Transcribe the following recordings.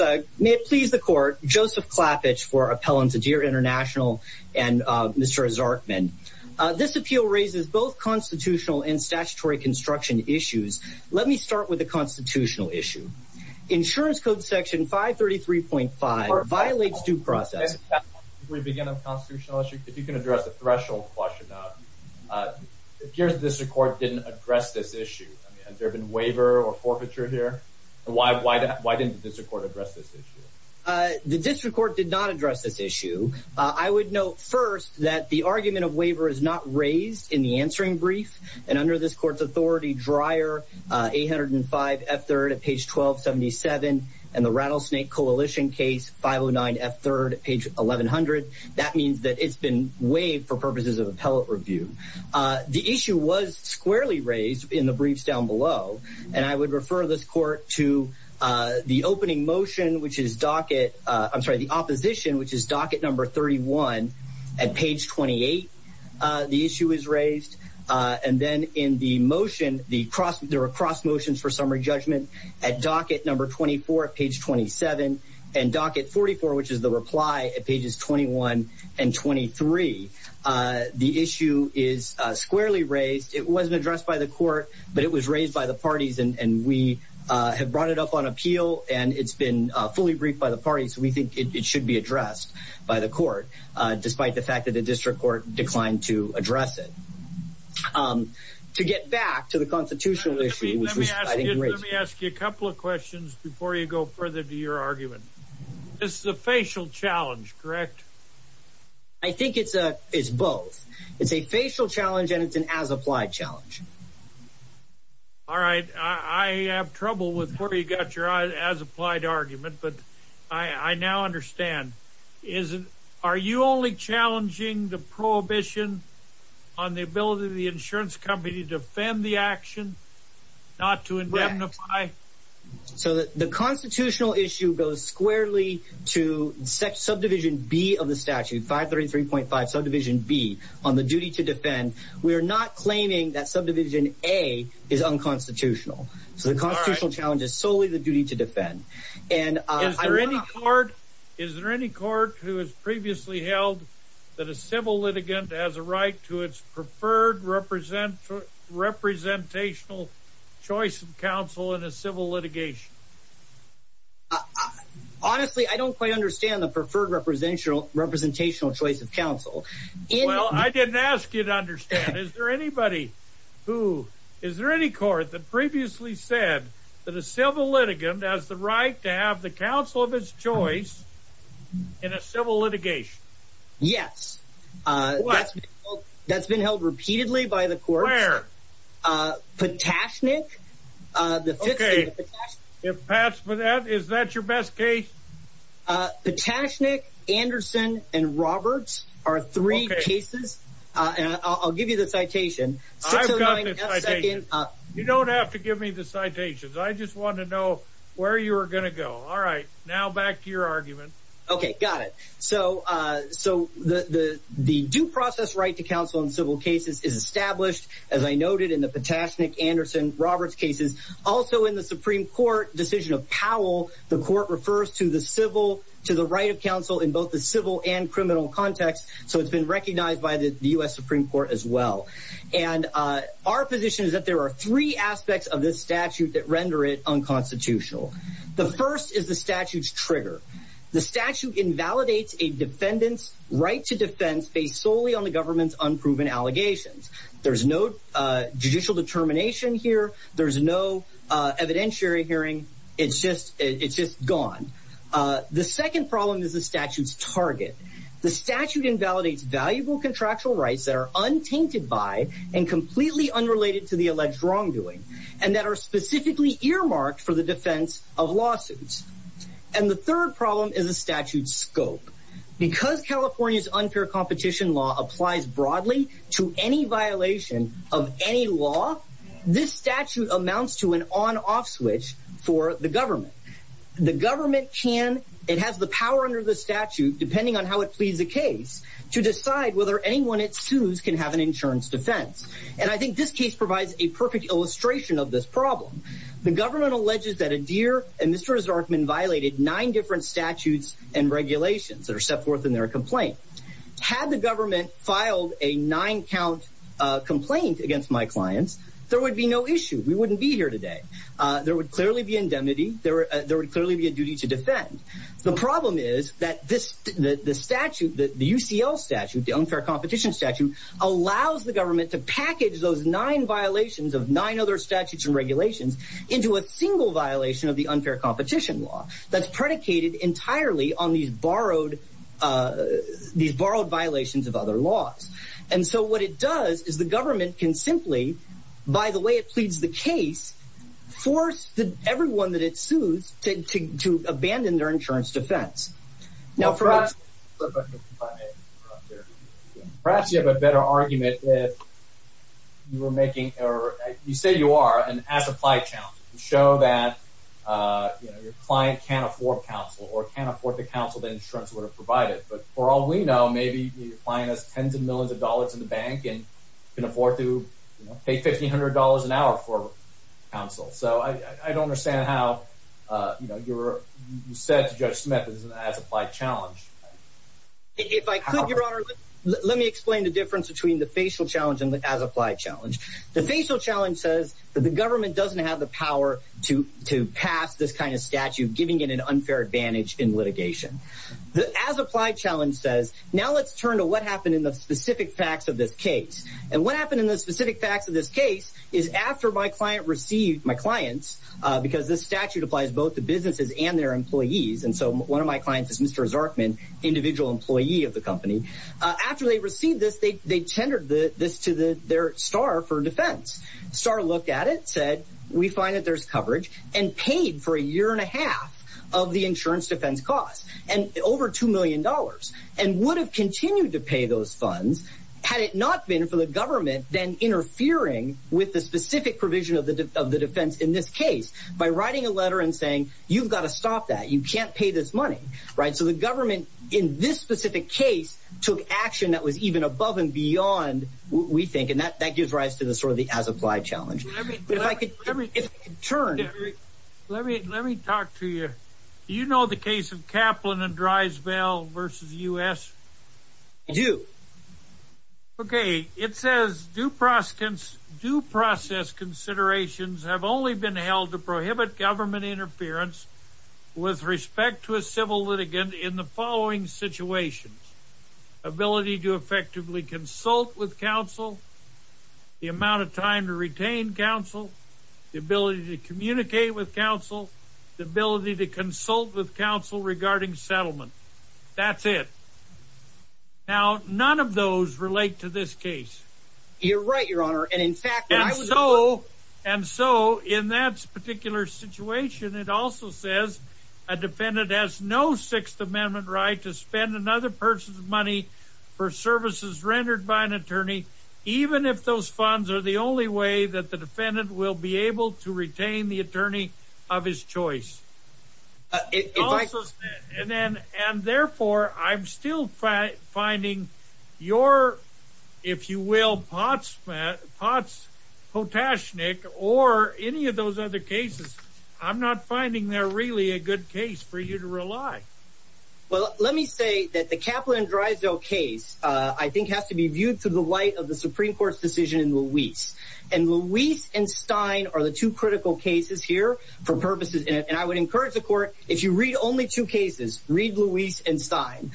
Joseph Klappitsch, Appellant to Dir International & Mr. Zarkman This appeal raises both constitutional and statutory construction issues. Let me start with the constitutional issue. Insurance Code Section 533.5 violates due process. Before we begin on the constitutional issue, if you can address the threshold question. It appears the District Court didn't address this issue. Has there been waiver or forfeiture here? Why didn't the District Court address this issue? The District Court did not address this issue. I would note first that the argument of waiver is not raised in the answering brief. And under this court's authority, Dryer 805 F3rd at page 1277 and the Rattlesnake Coalition case 509 F3rd at page 1100. That means that it's been waived for purposes of appellate review. The issue was squarely raised in the briefs down below. And I would refer this court to the opening motion, which is docket. I'm sorry, the opposition, which is docket number 31 at page 28. The issue is raised. And then in the motion, there are cross motions for summary judgment at docket number 24 at page 27. And docket 44, which is the reply at pages 21 and 23. The issue is squarely raised. It wasn't addressed by the court, but it was raised by the parties. And we have brought it up on appeal, and it's been fully briefed by the parties. We think it should be addressed by the court, despite the fact that the District Court declined to address it. To get back to the constitutional issue. Let me ask you a couple of questions before you go further to your argument. This is a facial challenge, correct? I think it's both. It's a facial challenge, and it's an as-applied challenge. All right. I have trouble with where you got your as-applied argument, but I now understand. Are you only challenging the prohibition on the ability of the insurance company to defend the action, not to indemnify? So the constitutional issue goes squarely to subdivision B of the statute, 533.5, subdivision B, on the duty to defend. We are not claiming that subdivision A is unconstitutional. So the constitutional challenge is solely the duty to defend. Is there any court who has previously held that a civil litigant has a right to its preferred representational choice of counsel in a civil litigation? Honestly, I don't quite understand the preferred representational choice of counsel. Well, I didn't ask you to understand. Is there any court that previously said that a civil litigant has the right to have the counsel of his choice in a civil litigation? Yes. What? That's been held repeatedly by the courts. Where? Patashnik. Okay. Is that your best case? Patashnik, Anderson, and Roberts are three cases. I'll give you the citation. I've got the citation. You don't have to give me the citations. I just want to know where you are going to go. All right. Now back to your argument. Okay. Got it. So the due process right to counsel in civil cases is established, as I noted, in the Patashnik, Anderson, Roberts cases. Also, in the Supreme Court decision of Powell, the court refers to the right of counsel in both the civil and criminal context. So it's been recognized by the U.S. Supreme Court as well. And our position is that there are three aspects of this statute that render it unconstitutional. The first is the statute's trigger. The statute invalidates a defendant's right to defense based solely on the government's unproven allegations. There's no judicial determination here. There's no evidentiary hearing. It's just gone. The second problem is the statute's target. The statute invalidates valuable contractual rights that are untainted by and completely unrelated to the alleged wrongdoing and that are specifically earmarked for the defense of lawsuits. And the third problem is the statute's scope. Because California's unfair competition law applies broadly to any violation of any law, this statute amounts to an on-off switch for the government. The government can, it has the power under the statute, depending on how it pleads the case, to decide whether anyone it sues can have an insurance defense. And I think this case provides a perfect illustration of this problem. The government alleges that Adair and Mr. Zarkman violated nine different statutes and regulations that are set forth in their complaint. Had the government filed a nine-count complaint against my clients, there would be no issue. We wouldn't be here today. There would clearly be indemnity. There would clearly be a duty to defend. The problem is that the statute, the UCL statute, the unfair competition statute, allows the government to package those nine violations of nine other statutes and regulations into a single violation of the unfair competition law that's predicated entirely on these borrowed violations of other laws. And so what it does is the government can simply, by the way it pleads the case, force everyone that it sues to abandon their insurance defense. Now perhaps you have a better argument if you were making, or you say you are, an as-applied challenge. You show that your client can't afford counsel or can't afford the counsel that insurance would have provided. But for all we know, maybe your client has tens of millions of dollars in the bank and can afford to pay $1,500 an hour for counsel. So I don't understand how you said to Judge Smith it's an as-applied challenge. If I could, Your Honor, let me explain the difference between the facial challenge and the as-applied challenge. The facial challenge says that the government doesn't have the power to pass this kind of statute, giving it an unfair advantage in litigation. The as-applied challenge says, now let's turn to what happened in the specific facts of this case. And what happened in the specific facts of this case is after my client received, my clients, because this statute applies both to businesses and their employees, and so one of my clients is Mr. Zarkman, individual employee of the company. After they received this, they tendered this to their STAR for defense. STAR looked at it, said we find that there's coverage, and paid for a year and a half of the insurance defense cost, and over $2 million, and would have continued to pay those funds had it not been for the government then interfering with the specific provision of the defense in this case by writing a letter and saying you've got to stop that, you can't pay this money. So the government in this specific case took action that was even above and beyond what we think, and that gives rise to sort of the as-applied challenge. If I could turn. Let me talk to you. Do you know the case of Kaplan and Drysdale versus U.S.? I do. Okay. It says due process considerations have only been held to prohibit government interference with respect to a civil litigant in the following situations. Ability to effectively consult with counsel. The amount of time to retain counsel. The ability to communicate with counsel. The ability to consult with counsel regarding settlement. That's it. Now, none of those relate to this case. You're right, Your Honor, and in fact. And so in that particular situation, it also says a defendant has no Sixth Amendment right to spend another person's money for services rendered by an attorney, even if those funds are the only way that the defendant will be able to retain the attorney of his choice. And therefore, I'm still finding your, if you will, Potts Potashnik or any of those other cases. I'm not finding they're really a good case for you to rely. Well, let me say that the Kaplan-Drysdale case, I think, has to be viewed through the light of the Supreme Court's decision in Luis. And Luis and Stein are the two critical cases here for purposes. And I would encourage the court, if you read only two cases, read Luis and Stein.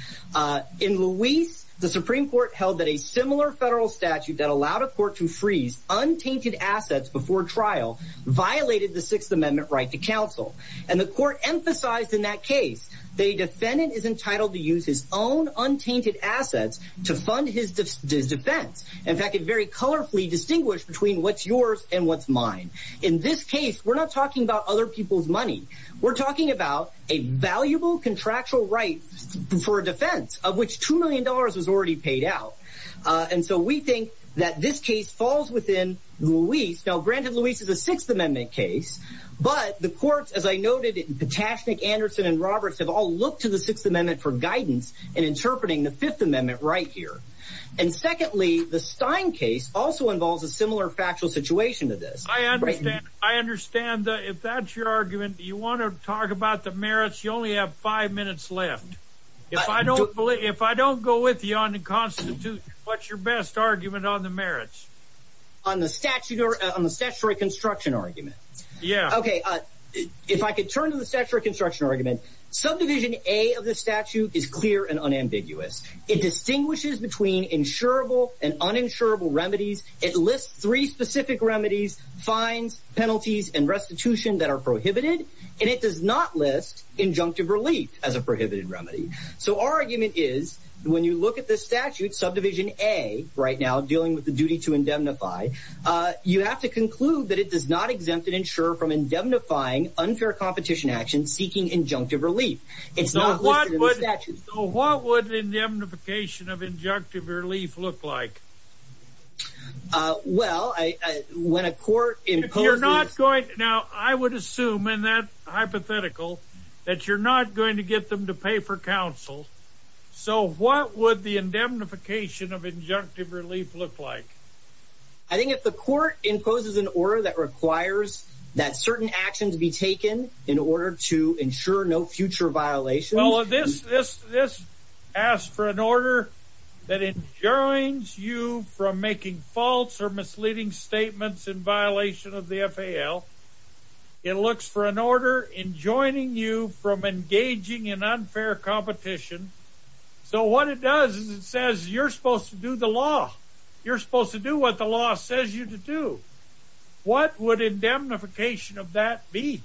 In Luis, the Supreme Court held that a similar federal statute that allowed a court to freeze untainted assets before trial violated the Sixth Amendment right to counsel. And the court emphasized in that case the defendant is entitled to use his own untainted assets to fund his defense. In fact, it very colorfully distinguished between what's yours and what's mine. In this case, we're not talking about other people's money. We're talking about a valuable contractual right for a defense of which $2 million was already paid out. And so we think that this case falls within Luis. Now, granted Luis is a Sixth Amendment case, but the courts, as I noted, Patashnik, Anderson, and Roberts have all looked to the Sixth Amendment for guidance in interpreting the Fifth Amendment right here. And secondly, the Stein case also involves a similar factual situation to this. I understand that if that's your argument, you want to talk about the merits, you only have five minutes left. If I don't go with you on the constitution, what's your best argument on the merits? On the statute or on the statutory construction argument? Yeah. Okay. If I could turn to the statutory construction argument, subdivision A of the statute is clear and unambiguous. It distinguishes between insurable and uninsurable remedies. It lists three specific remedies, fines, penalties, and restitution that are prohibited. And it does not list injunctive relief as a prohibited remedy. So our argument is when you look at the statute, subdivision A, right now dealing with the duty to indemnify, you have to conclude that it does not exempt an insurer from indemnifying unfair competition actions seeking injunctive relief. It's not listed in the statute. So what would indemnification of injunctive relief look like? Well, when a court imposes… Now, I would assume in that hypothetical that you're not going to get them to pay for counsel. So what would the indemnification of injunctive relief look like? I think if the court imposes an order that requires that certain actions be taken in order to ensure no future violations… It looks for an order that enjoins you from making false or misleading statements in violation of the FAL. It looks for an order enjoining you from engaging in unfair competition. So what it does is it says you're supposed to do the law. You're supposed to do what the law says you to do. What would indemnification of that be?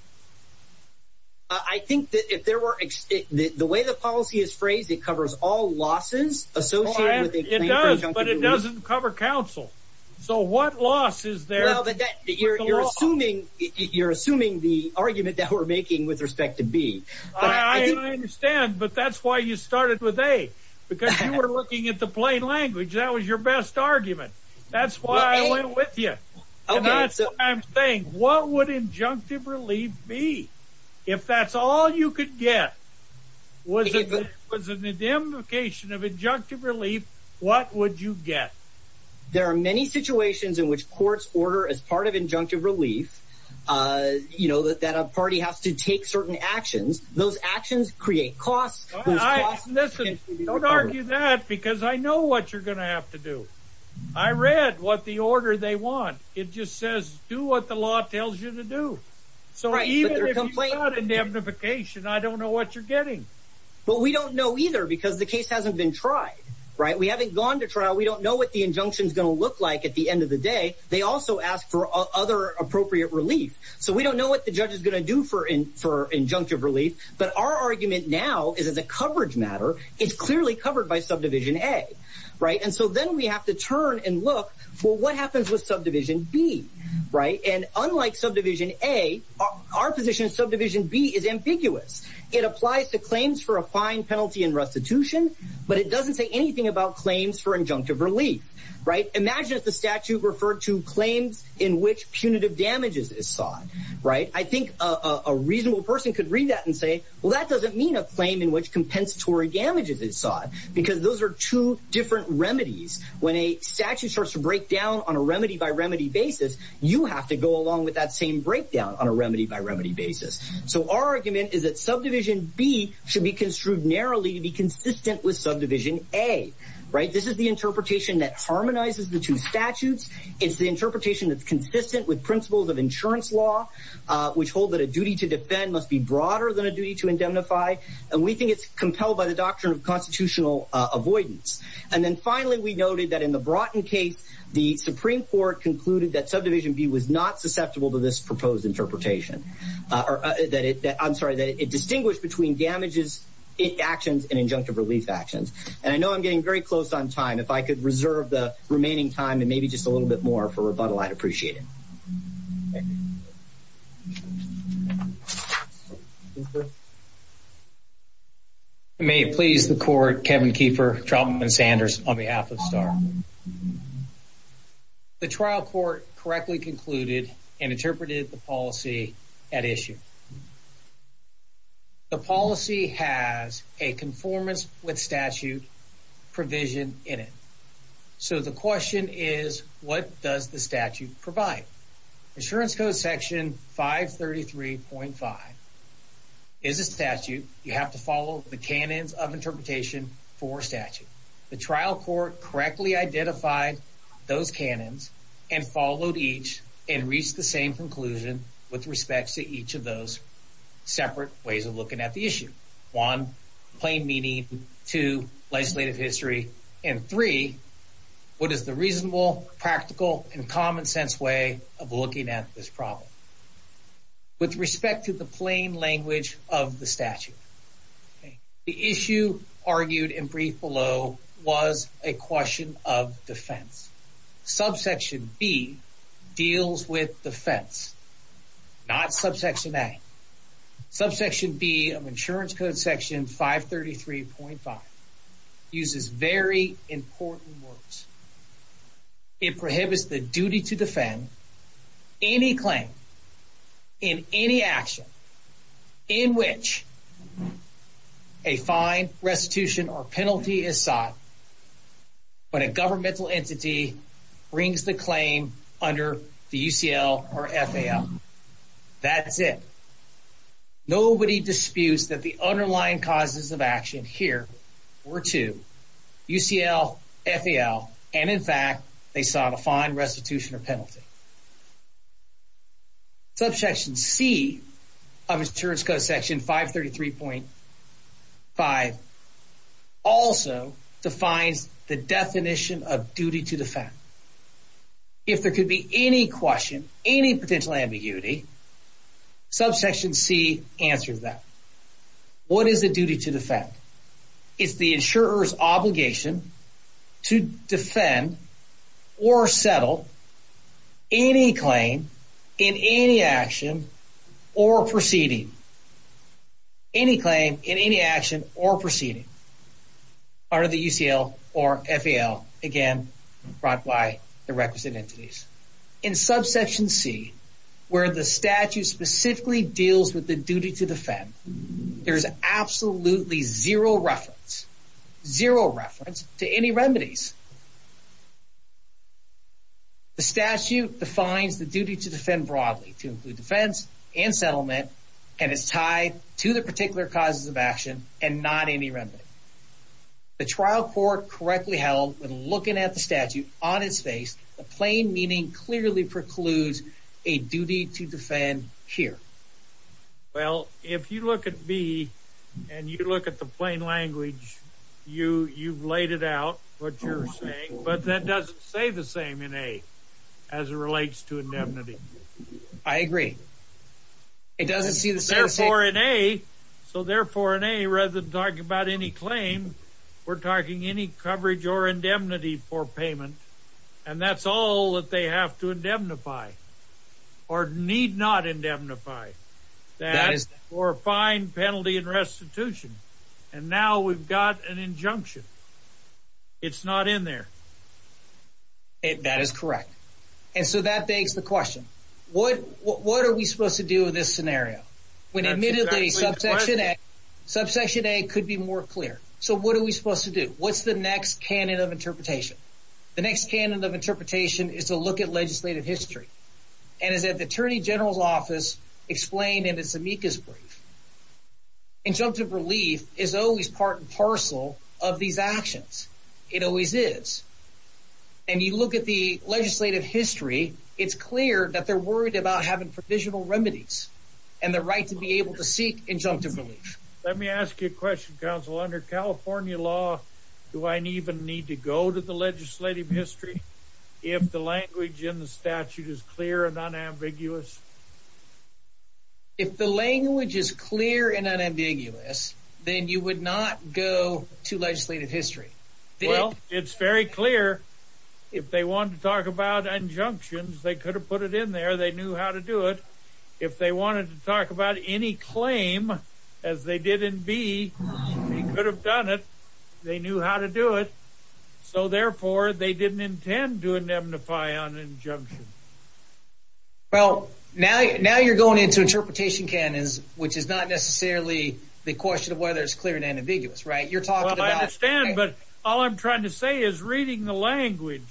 I think that if there were… The way the policy is phrased, it covers all losses associated with injunctive relief. It does, but it doesn't cover counsel. So what loss is there? You're assuming the argument that we're making with respect to B. I understand, but that's why you started with A. Because you were looking at the plain language. That was your best argument. That's why I went with you. That's what I'm saying. What would injunctive relief be? If that's all you could get was an indemnification of injunctive relief, what would you get? There are many situations in which courts order as part of injunctive relief that a party has to take certain actions. Those actions create costs. Listen, don't argue that because I know what you're going to have to do. I read what the order they want. It just says do what the law tells you to do. So even if you got indemnification, I don't know what you're getting. But we don't know either because the case hasn't been tried. We haven't gone to trial. We don't know what the injunction is going to look like at the end of the day. They also ask for other appropriate relief. So we don't know what the judge is going to do for injunctive relief. But our argument now is as a coverage matter, it's clearly covered by subdivision A. And so then we have to turn and look for what happens with subdivision B. And unlike subdivision A, our position in subdivision B is ambiguous. It applies to claims for a fine, penalty, and restitution, but it doesn't say anything about claims for injunctive relief. Imagine if the statute referred to claims in which punitive damages is sought. I think a reasonable person could read that and say, well, that doesn't mean a claim in which compensatory damages is sought because those are two different remedies. When a statute starts to break down on a remedy-by-remedy basis, you have to go along with that same breakdown on a remedy-by-remedy basis. So our argument is that subdivision B should be construed narrowly to be consistent with subdivision A. This is the interpretation that harmonizes the two statutes. It's the interpretation that's consistent with principles of insurance law, which hold that a duty to defend must be broader than a duty to indemnify. And we think it's compelled by the doctrine of constitutional avoidance. And then finally, we noted that in the Broughton case, the Supreme Court concluded that subdivision B was not susceptible to this proposed interpretation. I'm sorry, that it distinguished between damages, actions, and injunctive relief actions. And I know I'm getting very close on time. If I could reserve the remaining time and maybe just a little bit more for rebuttal, I'd appreciate it. Thank you. May it please the court, Kevin Keefer, Trumman and Sanders, on behalf of STAR. The trial court correctly concluded and interpreted the policy at issue. The policy has a conformance with statute provision in it. So the question is, what does the statute provide? Insurance Code Section 533.5 is a statute. You have to follow the canons of interpretation for statute. The trial court correctly identified those canons and followed each and reached the same conclusion with respect to each of those separate ways of looking at the issue. One, plain meaning. Two, legislative history. And three, what is the reasonable, practical, and common sense way of looking at this problem? With respect to the plain language of the statute, the issue argued in brief below was a question of defense. Subsection B deals with defense, not subsection A. Subsection B of Insurance Code Section 533.5 uses very important words. It prohibits the duty to defend any claim in any action in which a fine, restitution, or penalty is sought when a governmental entity brings the claim under the UCL or FAL. That's it. Nobody disputes that the underlying causes of action here were to UCL, FAL, and in fact, they sought a fine, restitution, or penalty. Subsection C of Insurance Code Section 533.5 also defines the definition of duty to defend. If there could be any question, any potential ambiguity, subsection C answers that. What is the duty to defend? It's the insurer's obligation to defend or settle any claim in any action or proceeding. Any claim in any action or proceeding under the UCL or FAL. Again, brought by the requisite entities. In subsection C, where the statute specifically deals with the duty to defend, there is absolutely zero reference, zero reference to any remedies. The statute defines the duty to defend broadly to include defense and settlement, and it's tied to the particular causes of action and not any remedy. The trial court correctly held when looking at the statute on its face, the plain meaning clearly precludes a duty to defend here. Well, if you look at B and you look at the plain language, you've laid it out, what you're saying, but that doesn't say the same in A as it relates to indemnity. I agree. It doesn't see the same. Therefore, in A, rather than talking about any claim, we're talking any coverage or indemnity for payment, and that's all that they have to indemnify or need not indemnify for a fine, penalty, and restitution. And now we've got an injunction. It's not in there. That is correct. And so that begs the question, what are we supposed to do in this scenario? When admittedly subsection A could be more clear. So what are we supposed to do? What's the next canon of interpretation? The next canon of interpretation is to look at legislative history, and as the Attorney General's Office explained in its amicus brief, injunctive relief is always part and parcel of these actions. It always is. And you look at the legislative history. It's clear that they're worried about having provisional remedies and the right to be able to seek injunctive relief. Let me ask you a question, counsel. Under California law, do I even need to go to the legislative history if the language in the statute is clear and unambiguous? If the language is clear and unambiguous, then you would not go to legislative history. Well, it's very clear. If they wanted to talk about injunctions, they could have put it in there. They knew how to do it. If they wanted to talk about any claim, as they did in B, they could have done it. They knew how to do it. So therefore, they didn't intend to indemnify on injunction. Well, now you're going into interpretation canons, which is not necessarily the question of whether it's clear and unambiguous, right? Well, I understand, but all I'm trying to say is reading the language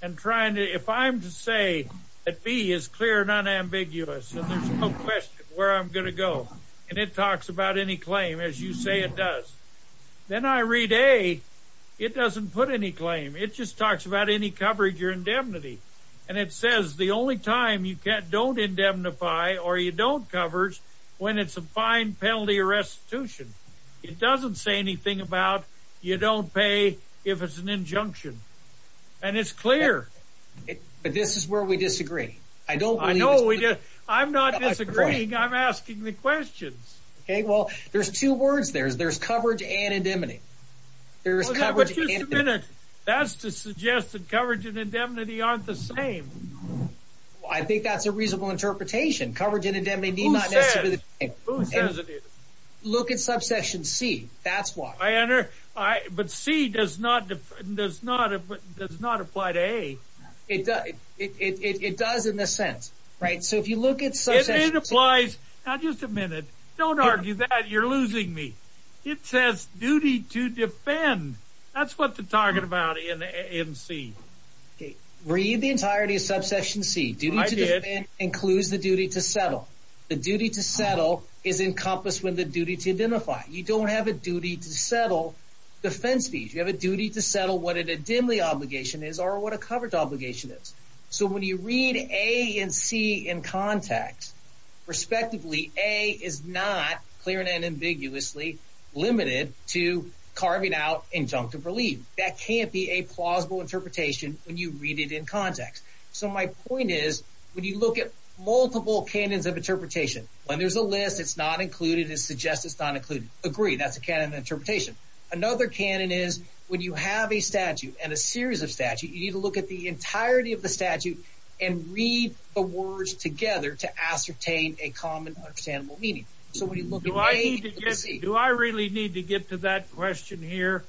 and trying to—if I'm to say that B is clear and unambiguous, and there's no question where I'm going to go, and it talks about any claim, as you say it does, then I read A, it doesn't put any claim. It just talks about any coverage or indemnity. And it says the only time you don't indemnify or you don't cover is when it's a fine, penalty, or restitution. It doesn't say anything about you don't pay if it's an injunction. And it's clear. But this is where we disagree. I don't believe it's clear. I'm not disagreeing. I'm asking the questions. Okay, well, there's two words there. There's coverage and indemnity. There's coverage and indemnity. That's to suggest that coverage and indemnity aren't the same. Well, I think that's a reasonable interpretation. Coverage and indemnity need not necessarily be the same. Who says it is? Look at Subsection C. That's why. But C does not apply to A. It does in a sense. So if you look at Subsection C. It applies. Now, just a minute. Don't argue that. You're losing me. It says duty to defend. That's what they're talking about in C. Read the entirety of Subsection C. Duty to defend includes the duty to settle. The duty to settle is encompassed with the duty to identify. You don't have a duty to settle defense fees. You have a duty to settle what an indemnity obligation is or what a coverage obligation is. So when you read A and C in context, respectively, A is not, clearly and ambiguously, limited to carving out injunctive relief. That can't be a plausible interpretation when you read it in context. So my point is, when you look at multiple canons of interpretation, when there's a list, it's not included. It suggests it's not included. Agree. That's a canon of interpretation. Another canon is when you have a statute and a series of statutes, you need to look at the entirety of the statute and read the words together to ascertain a common understandable meaning. So when you look at A and C. Do I really need to get to that question here?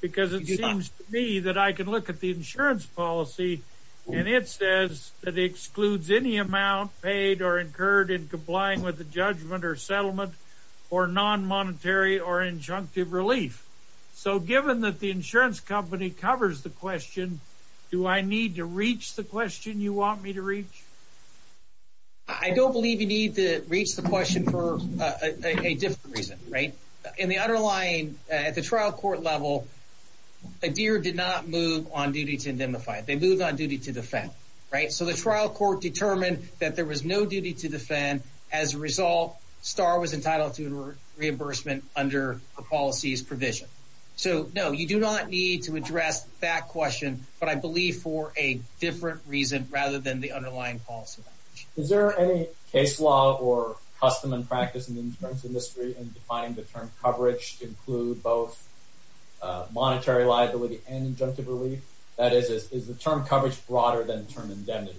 Because it seems to me that I can look at the insurance policy and it says that it excludes any amount paid or incurred in complying with the judgment or settlement or non-monetary or injunctive relief. So given that the insurance company covers the question, do I need to reach the question you want me to reach? I don't believe you need to reach the question for a different reason. In the underlying, at the trial court level, a deer did not move on duty to indemnify. They moved on duty to defend. So the trial court determined that there was no duty to defend. As a result, Star was entitled to reimbursement under the policy's provision. So, no, you do not need to address that question, but I believe for a different reason rather than the underlying policy. Is there any case law or custom and practice in the insurance industry in defining the term coverage to include both monetary liability and injunctive relief? That is, is the term coverage broader than the term indemnity?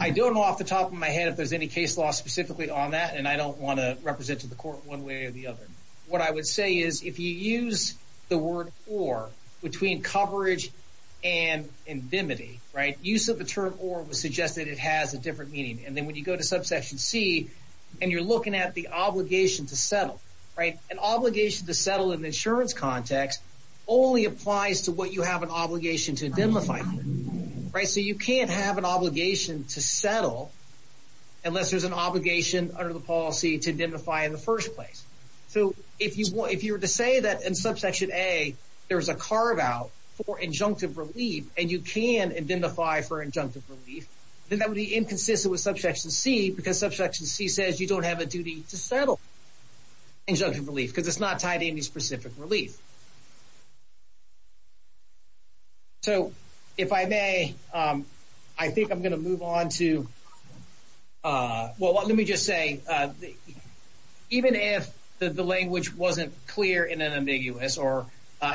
I don't know off the top of my head if there's any case law specifically on that, and I don't want to represent to the court one way or the other. What I would say is if you use the word or between coverage and indemnity, use of the term or would suggest that it has a different meaning. And then when you go to subsection C and you're looking at the obligation to settle, an obligation to settle in the insurance context only applies to what you have an obligation to indemnify. So you can't have an obligation to settle unless there's an obligation under the policy to indemnify in the first place. So if you were to say that in subsection A there's a carve-out for injunctive relief and you can indemnify for injunctive relief, then that would be inconsistent with subsection C because subsection C says you don't have a duty to settle injunctive relief because it's not tied to any specific relief. So if I may, I think I'm going to move on to – well, let me just say even if the language wasn't clear in an ambiguous or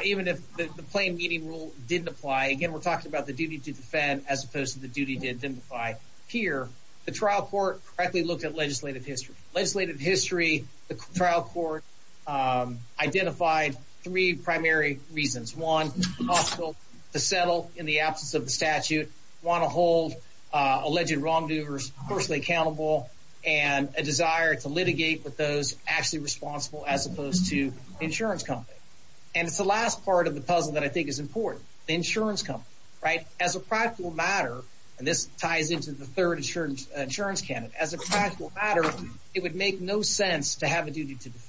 even if the plain meaning rule didn't apply, again, we're talking about the duty to defend as opposed to the duty to indemnify here, the trial court correctly looked at legislative history. Legislative history, the trial court identified three primary reasons. One, it's impossible to settle in the absence of the statute, you want to hold alleged wrongdoers personally accountable, and a desire to litigate with those actually responsible as opposed to the insurance company. And it's the last part of the puzzle that I think is important, the insurance company. As a practical matter, and this ties into the third insurance candidate, as a practical matter, it would make no sense to have a duty to defend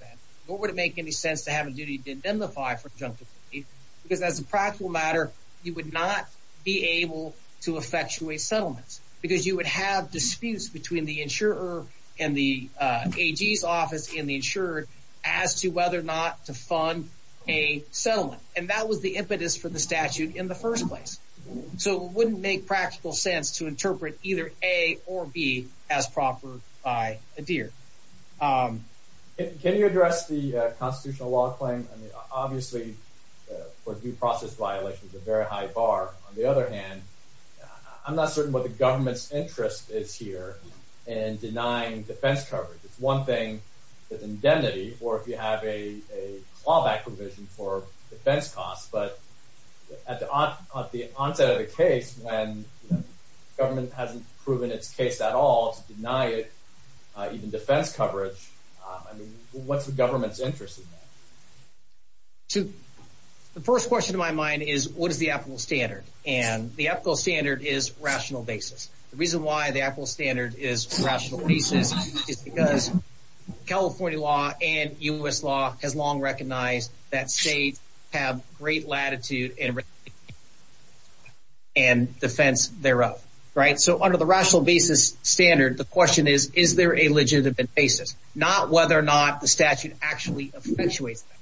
nor would it make any sense to have a duty to indemnify for injunctive relief because as a practical matter, you would not be able to effectuate settlements because you would have disputes between the insurer and the AG's office and the insurer as to whether or not to fund a settlement. And that was the impetus for the statute in the first place. So it wouldn't make practical sense to interpret either A or B as proper by ADIR. Can you address the constitutional law claim? I mean, obviously, for due process violations, a very high bar. On the other hand, I'm not certain what the government's interest is here in denying defense coverage. It's one thing if indemnity or if you have a clawback provision for defense costs, but at the onset of the case, when the government hasn't proven its case at all to deny it, even defense coverage, I mean, what's the government's interest in that? The first question to my mind is what is the ethical standard? And the ethical standard is rational basis. The reason why the ethical standard is rational basis is because California law and U.S. law has long recognized that states have great latitude and defense thereof. So under the rational basis standard, the question is, is there a legitimate basis? Not whether or not the statute actually effectuates that.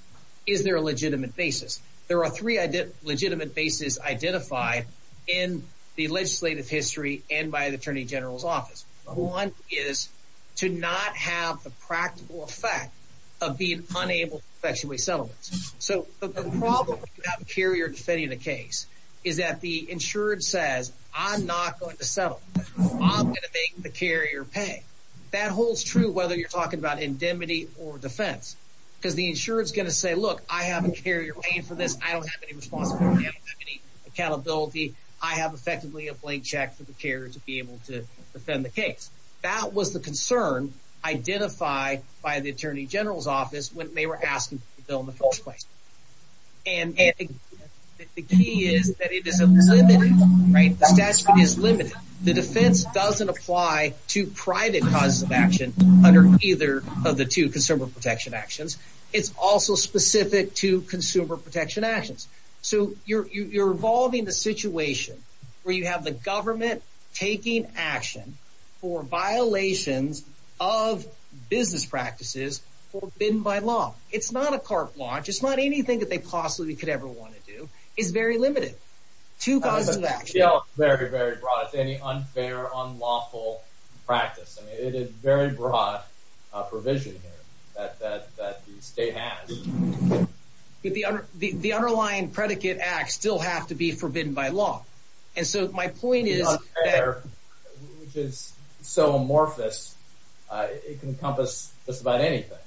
Is there a legitimate basis? There are three legitimate bases identified in the legislative history and by the Attorney General's office. One is to not have the practical effect of being unable to effectuate settlements. So the problem if you have a carrier defending the case is that the insured says, I'm not going to settle. I'm going to make the carrier pay. That holds true whether you're talking about indemnity or defense because the insured is going to say, look, I have a carrier paying for this. I don't have any responsibility. I don't have any accountability. I have effectively a blank check for the carrier to be able to defend the case. That was the concern identified by the Attorney General's office when they were asking for the bill in the first place. And the key is that it is a limited, right? The statute is limited. The defense doesn't apply to private causes of action under either of the two consumer protection actions. It's also specific to consumer protection actions. So you're involving the situation where you have the government taking action for violations of business practices forbidden by law. It's not a cart launch. It's not anything that they possibly could ever want to do. It's very limited. Two causes of action. Very, very broad. Any unfair, unlawful practice. I mean, it is very broad provision here that the state has. The underlying predicate act still have to be forbidden by law. And so my point is. Which is so amorphous. It can encompass just about anything.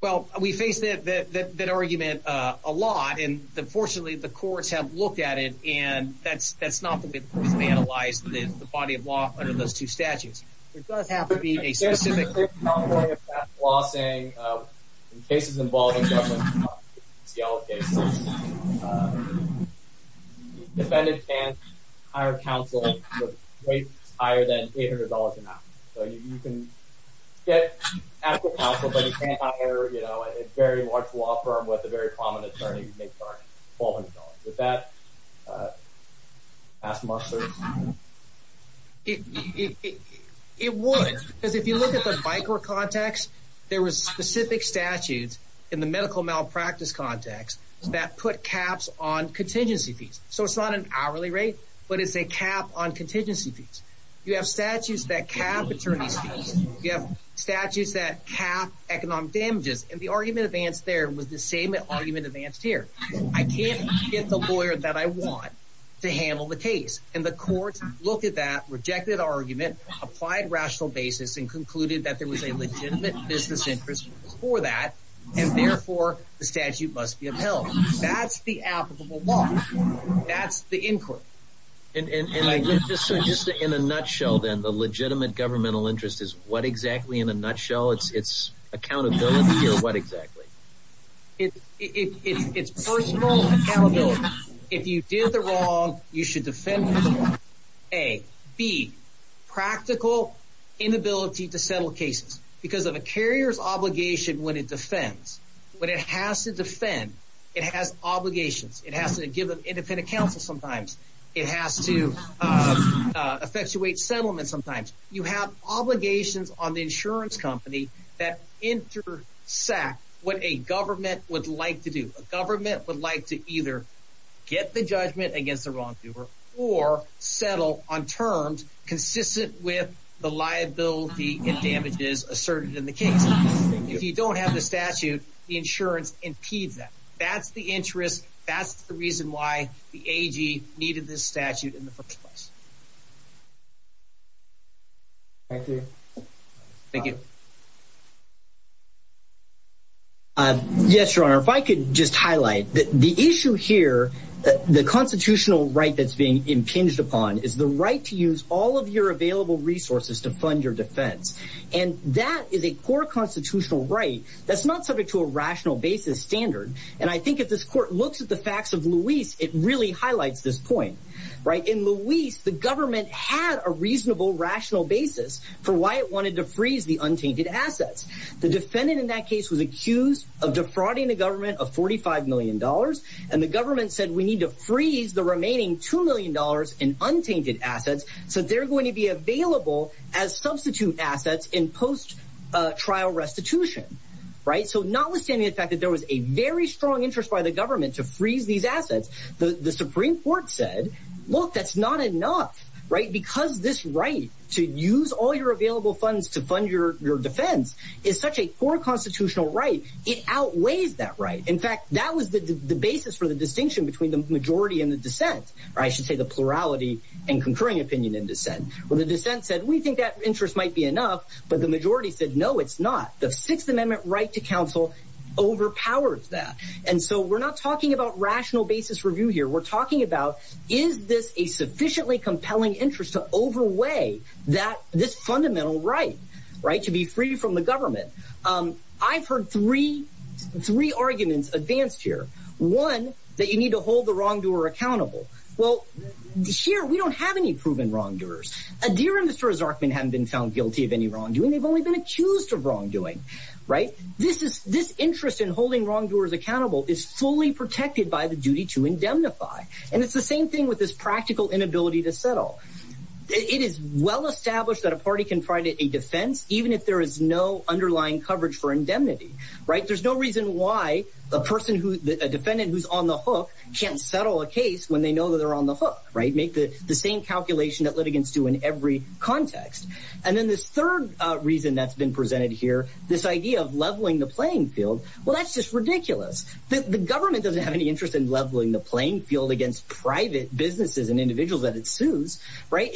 Well, we face that argument a lot. And, unfortunately, the courts have looked at it. And that's not the way the courts have analyzed the body of law under those two statutes. There does have to be a specific category of past law saying in cases involving government, in Seattle cases, the defendant can't hire counsel with rates higher than $800 an hour. So you can get actual counsel, but you can't hire, you know, a very large law firm with a very prominent attorney who makes $1,200. Would that ask much service? It would. Because if you look at the micro context, there was specific statutes in the medical malpractice context that put caps on contingency fees. So it's not an hourly rate, but it's a cap on contingency fees. You have statutes that cap attorney fees. You have statutes that cap economic damages. And the argument advanced there was the same argument advanced here. I can't get the lawyer that I want to handle the case. And the courts looked at that rejected argument, applied rational basis and concluded that there was a legitimate business interest for that, and, therefore, the statute must be upheld. That's the applicable law. That's the inquiry. And just in a nutshell, then, the legitimate governmental interest is what exactly in a nutshell? It's accountability or what exactly? It's personal accountability. If you did the wrong, you should defend for the wrong. A. B. Practical inability to settle cases. Because of a carrier's obligation when it defends. When it has to defend, it has obligations. It has to give an independent counsel sometimes. It has to effectuate settlement sometimes. You have obligations on the insurance company that intersect what a government would like to do. A government would like to either get the judgment against the wrongdoer or settle on terms consistent with the liability and damages asserted in the case. If you don't have the statute, the insurance impedes that. That's the interest. That's the reason why the AG needed this statute in the first place. Thank you. Thank you. Yes, Your Honor. If I could just highlight the issue here, the constitutional right that's being impinged upon is the right to use all of your available resources to fund your defense. And that is a core constitutional right. That's not subject to a rational basis standard. And I think if this court looks at the facts of Luis, it really highlights this point. In Luis, the government had a reasonable rational basis for why it wanted to freeze the untainted assets. The defendant in that case was accused of defrauding the government of $45 million. And the government said, we need to freeze the remaining $2 million in untainted assets. So they're going to be available as substitute assets in post trial restitution. So notwithstanding the fact that there was a very strong interest by the government to freeze these assets, the Supreme court said, look, that's not enough, right? Because this right to use all your available funds to fund your, your defense is such a core constitutional right. It outweighs that, right? In fact, that was the basis for the distinction between the majority and the descent, or I should say the plurality and concurring opinion in descent. When the descent said, we think that interest might be enough, but the majority said, no, it's not. The sixth amendment right to counsel overpowers that. And so we're not talking about rational basis review here. We're talking about, is this a sufficiently compelling interest to overweigh that, this fundamental right, right? To be free from the government. I've heard three, three arguments advanced here. One that you need to hold the wrongdoer accountable. Well, here, we don't have any proven wrongdoers. A deer and Mr. Zarkman hadn't been found guilty of any wrongdoing. They've only been accused of wrongdoing, right? This is this interest in holding wrongdoers accountable is fully protected by the duty to indemnify. And it's the same thing with this practical inability to settle. It is well established that a party can find it a defense, even if there is no underlying coverage for indemnity, right? There's no reason why a person who, a defendant who's on the hook can't settle a case when they know that they're on the hook, right? Make the same calculation that litigants do in every context. And then this third reason that's been presented here, this idea of leveling the playing field. Well, that's just ridiculous. The government doesn't have any interest in leveling the playing field against private businesses and individuals that it sues, right?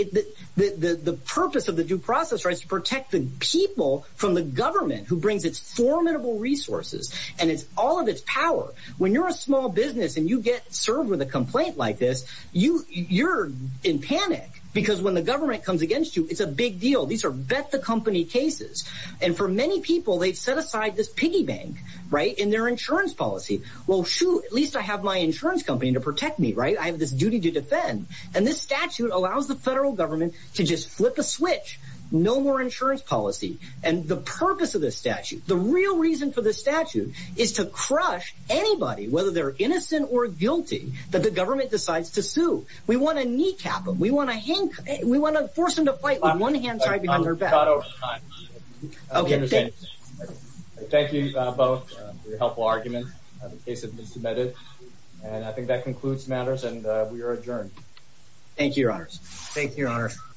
The purpose of the due process rights to protect the people from the government who brings its formidable resources and it's all of its power. When you're a small business and you get served with a complaint like this, you you're in panic because when the government comes against you, it's a big deal. These are bet the company cases. And for many people, they've set aside this piggy bank, right? In their insurance policy. Well, shoot, at least I have my insurance company to protect me, right? I have this duty to defend. And this statute allows the federal government to just flip a switch. No more insurance policy. And the purpose of this statute, the real reason for this statute is to crush anybody, whether they're innocent or guilty, that the government decides to sue. We want to kneecap them. We want to force them to fight with one hand tied behind their back. Okay. Thank you both for your helpful argument. The case has been submitted. And I think that concludes matters and we are adjourned. Thank you, Your Honors.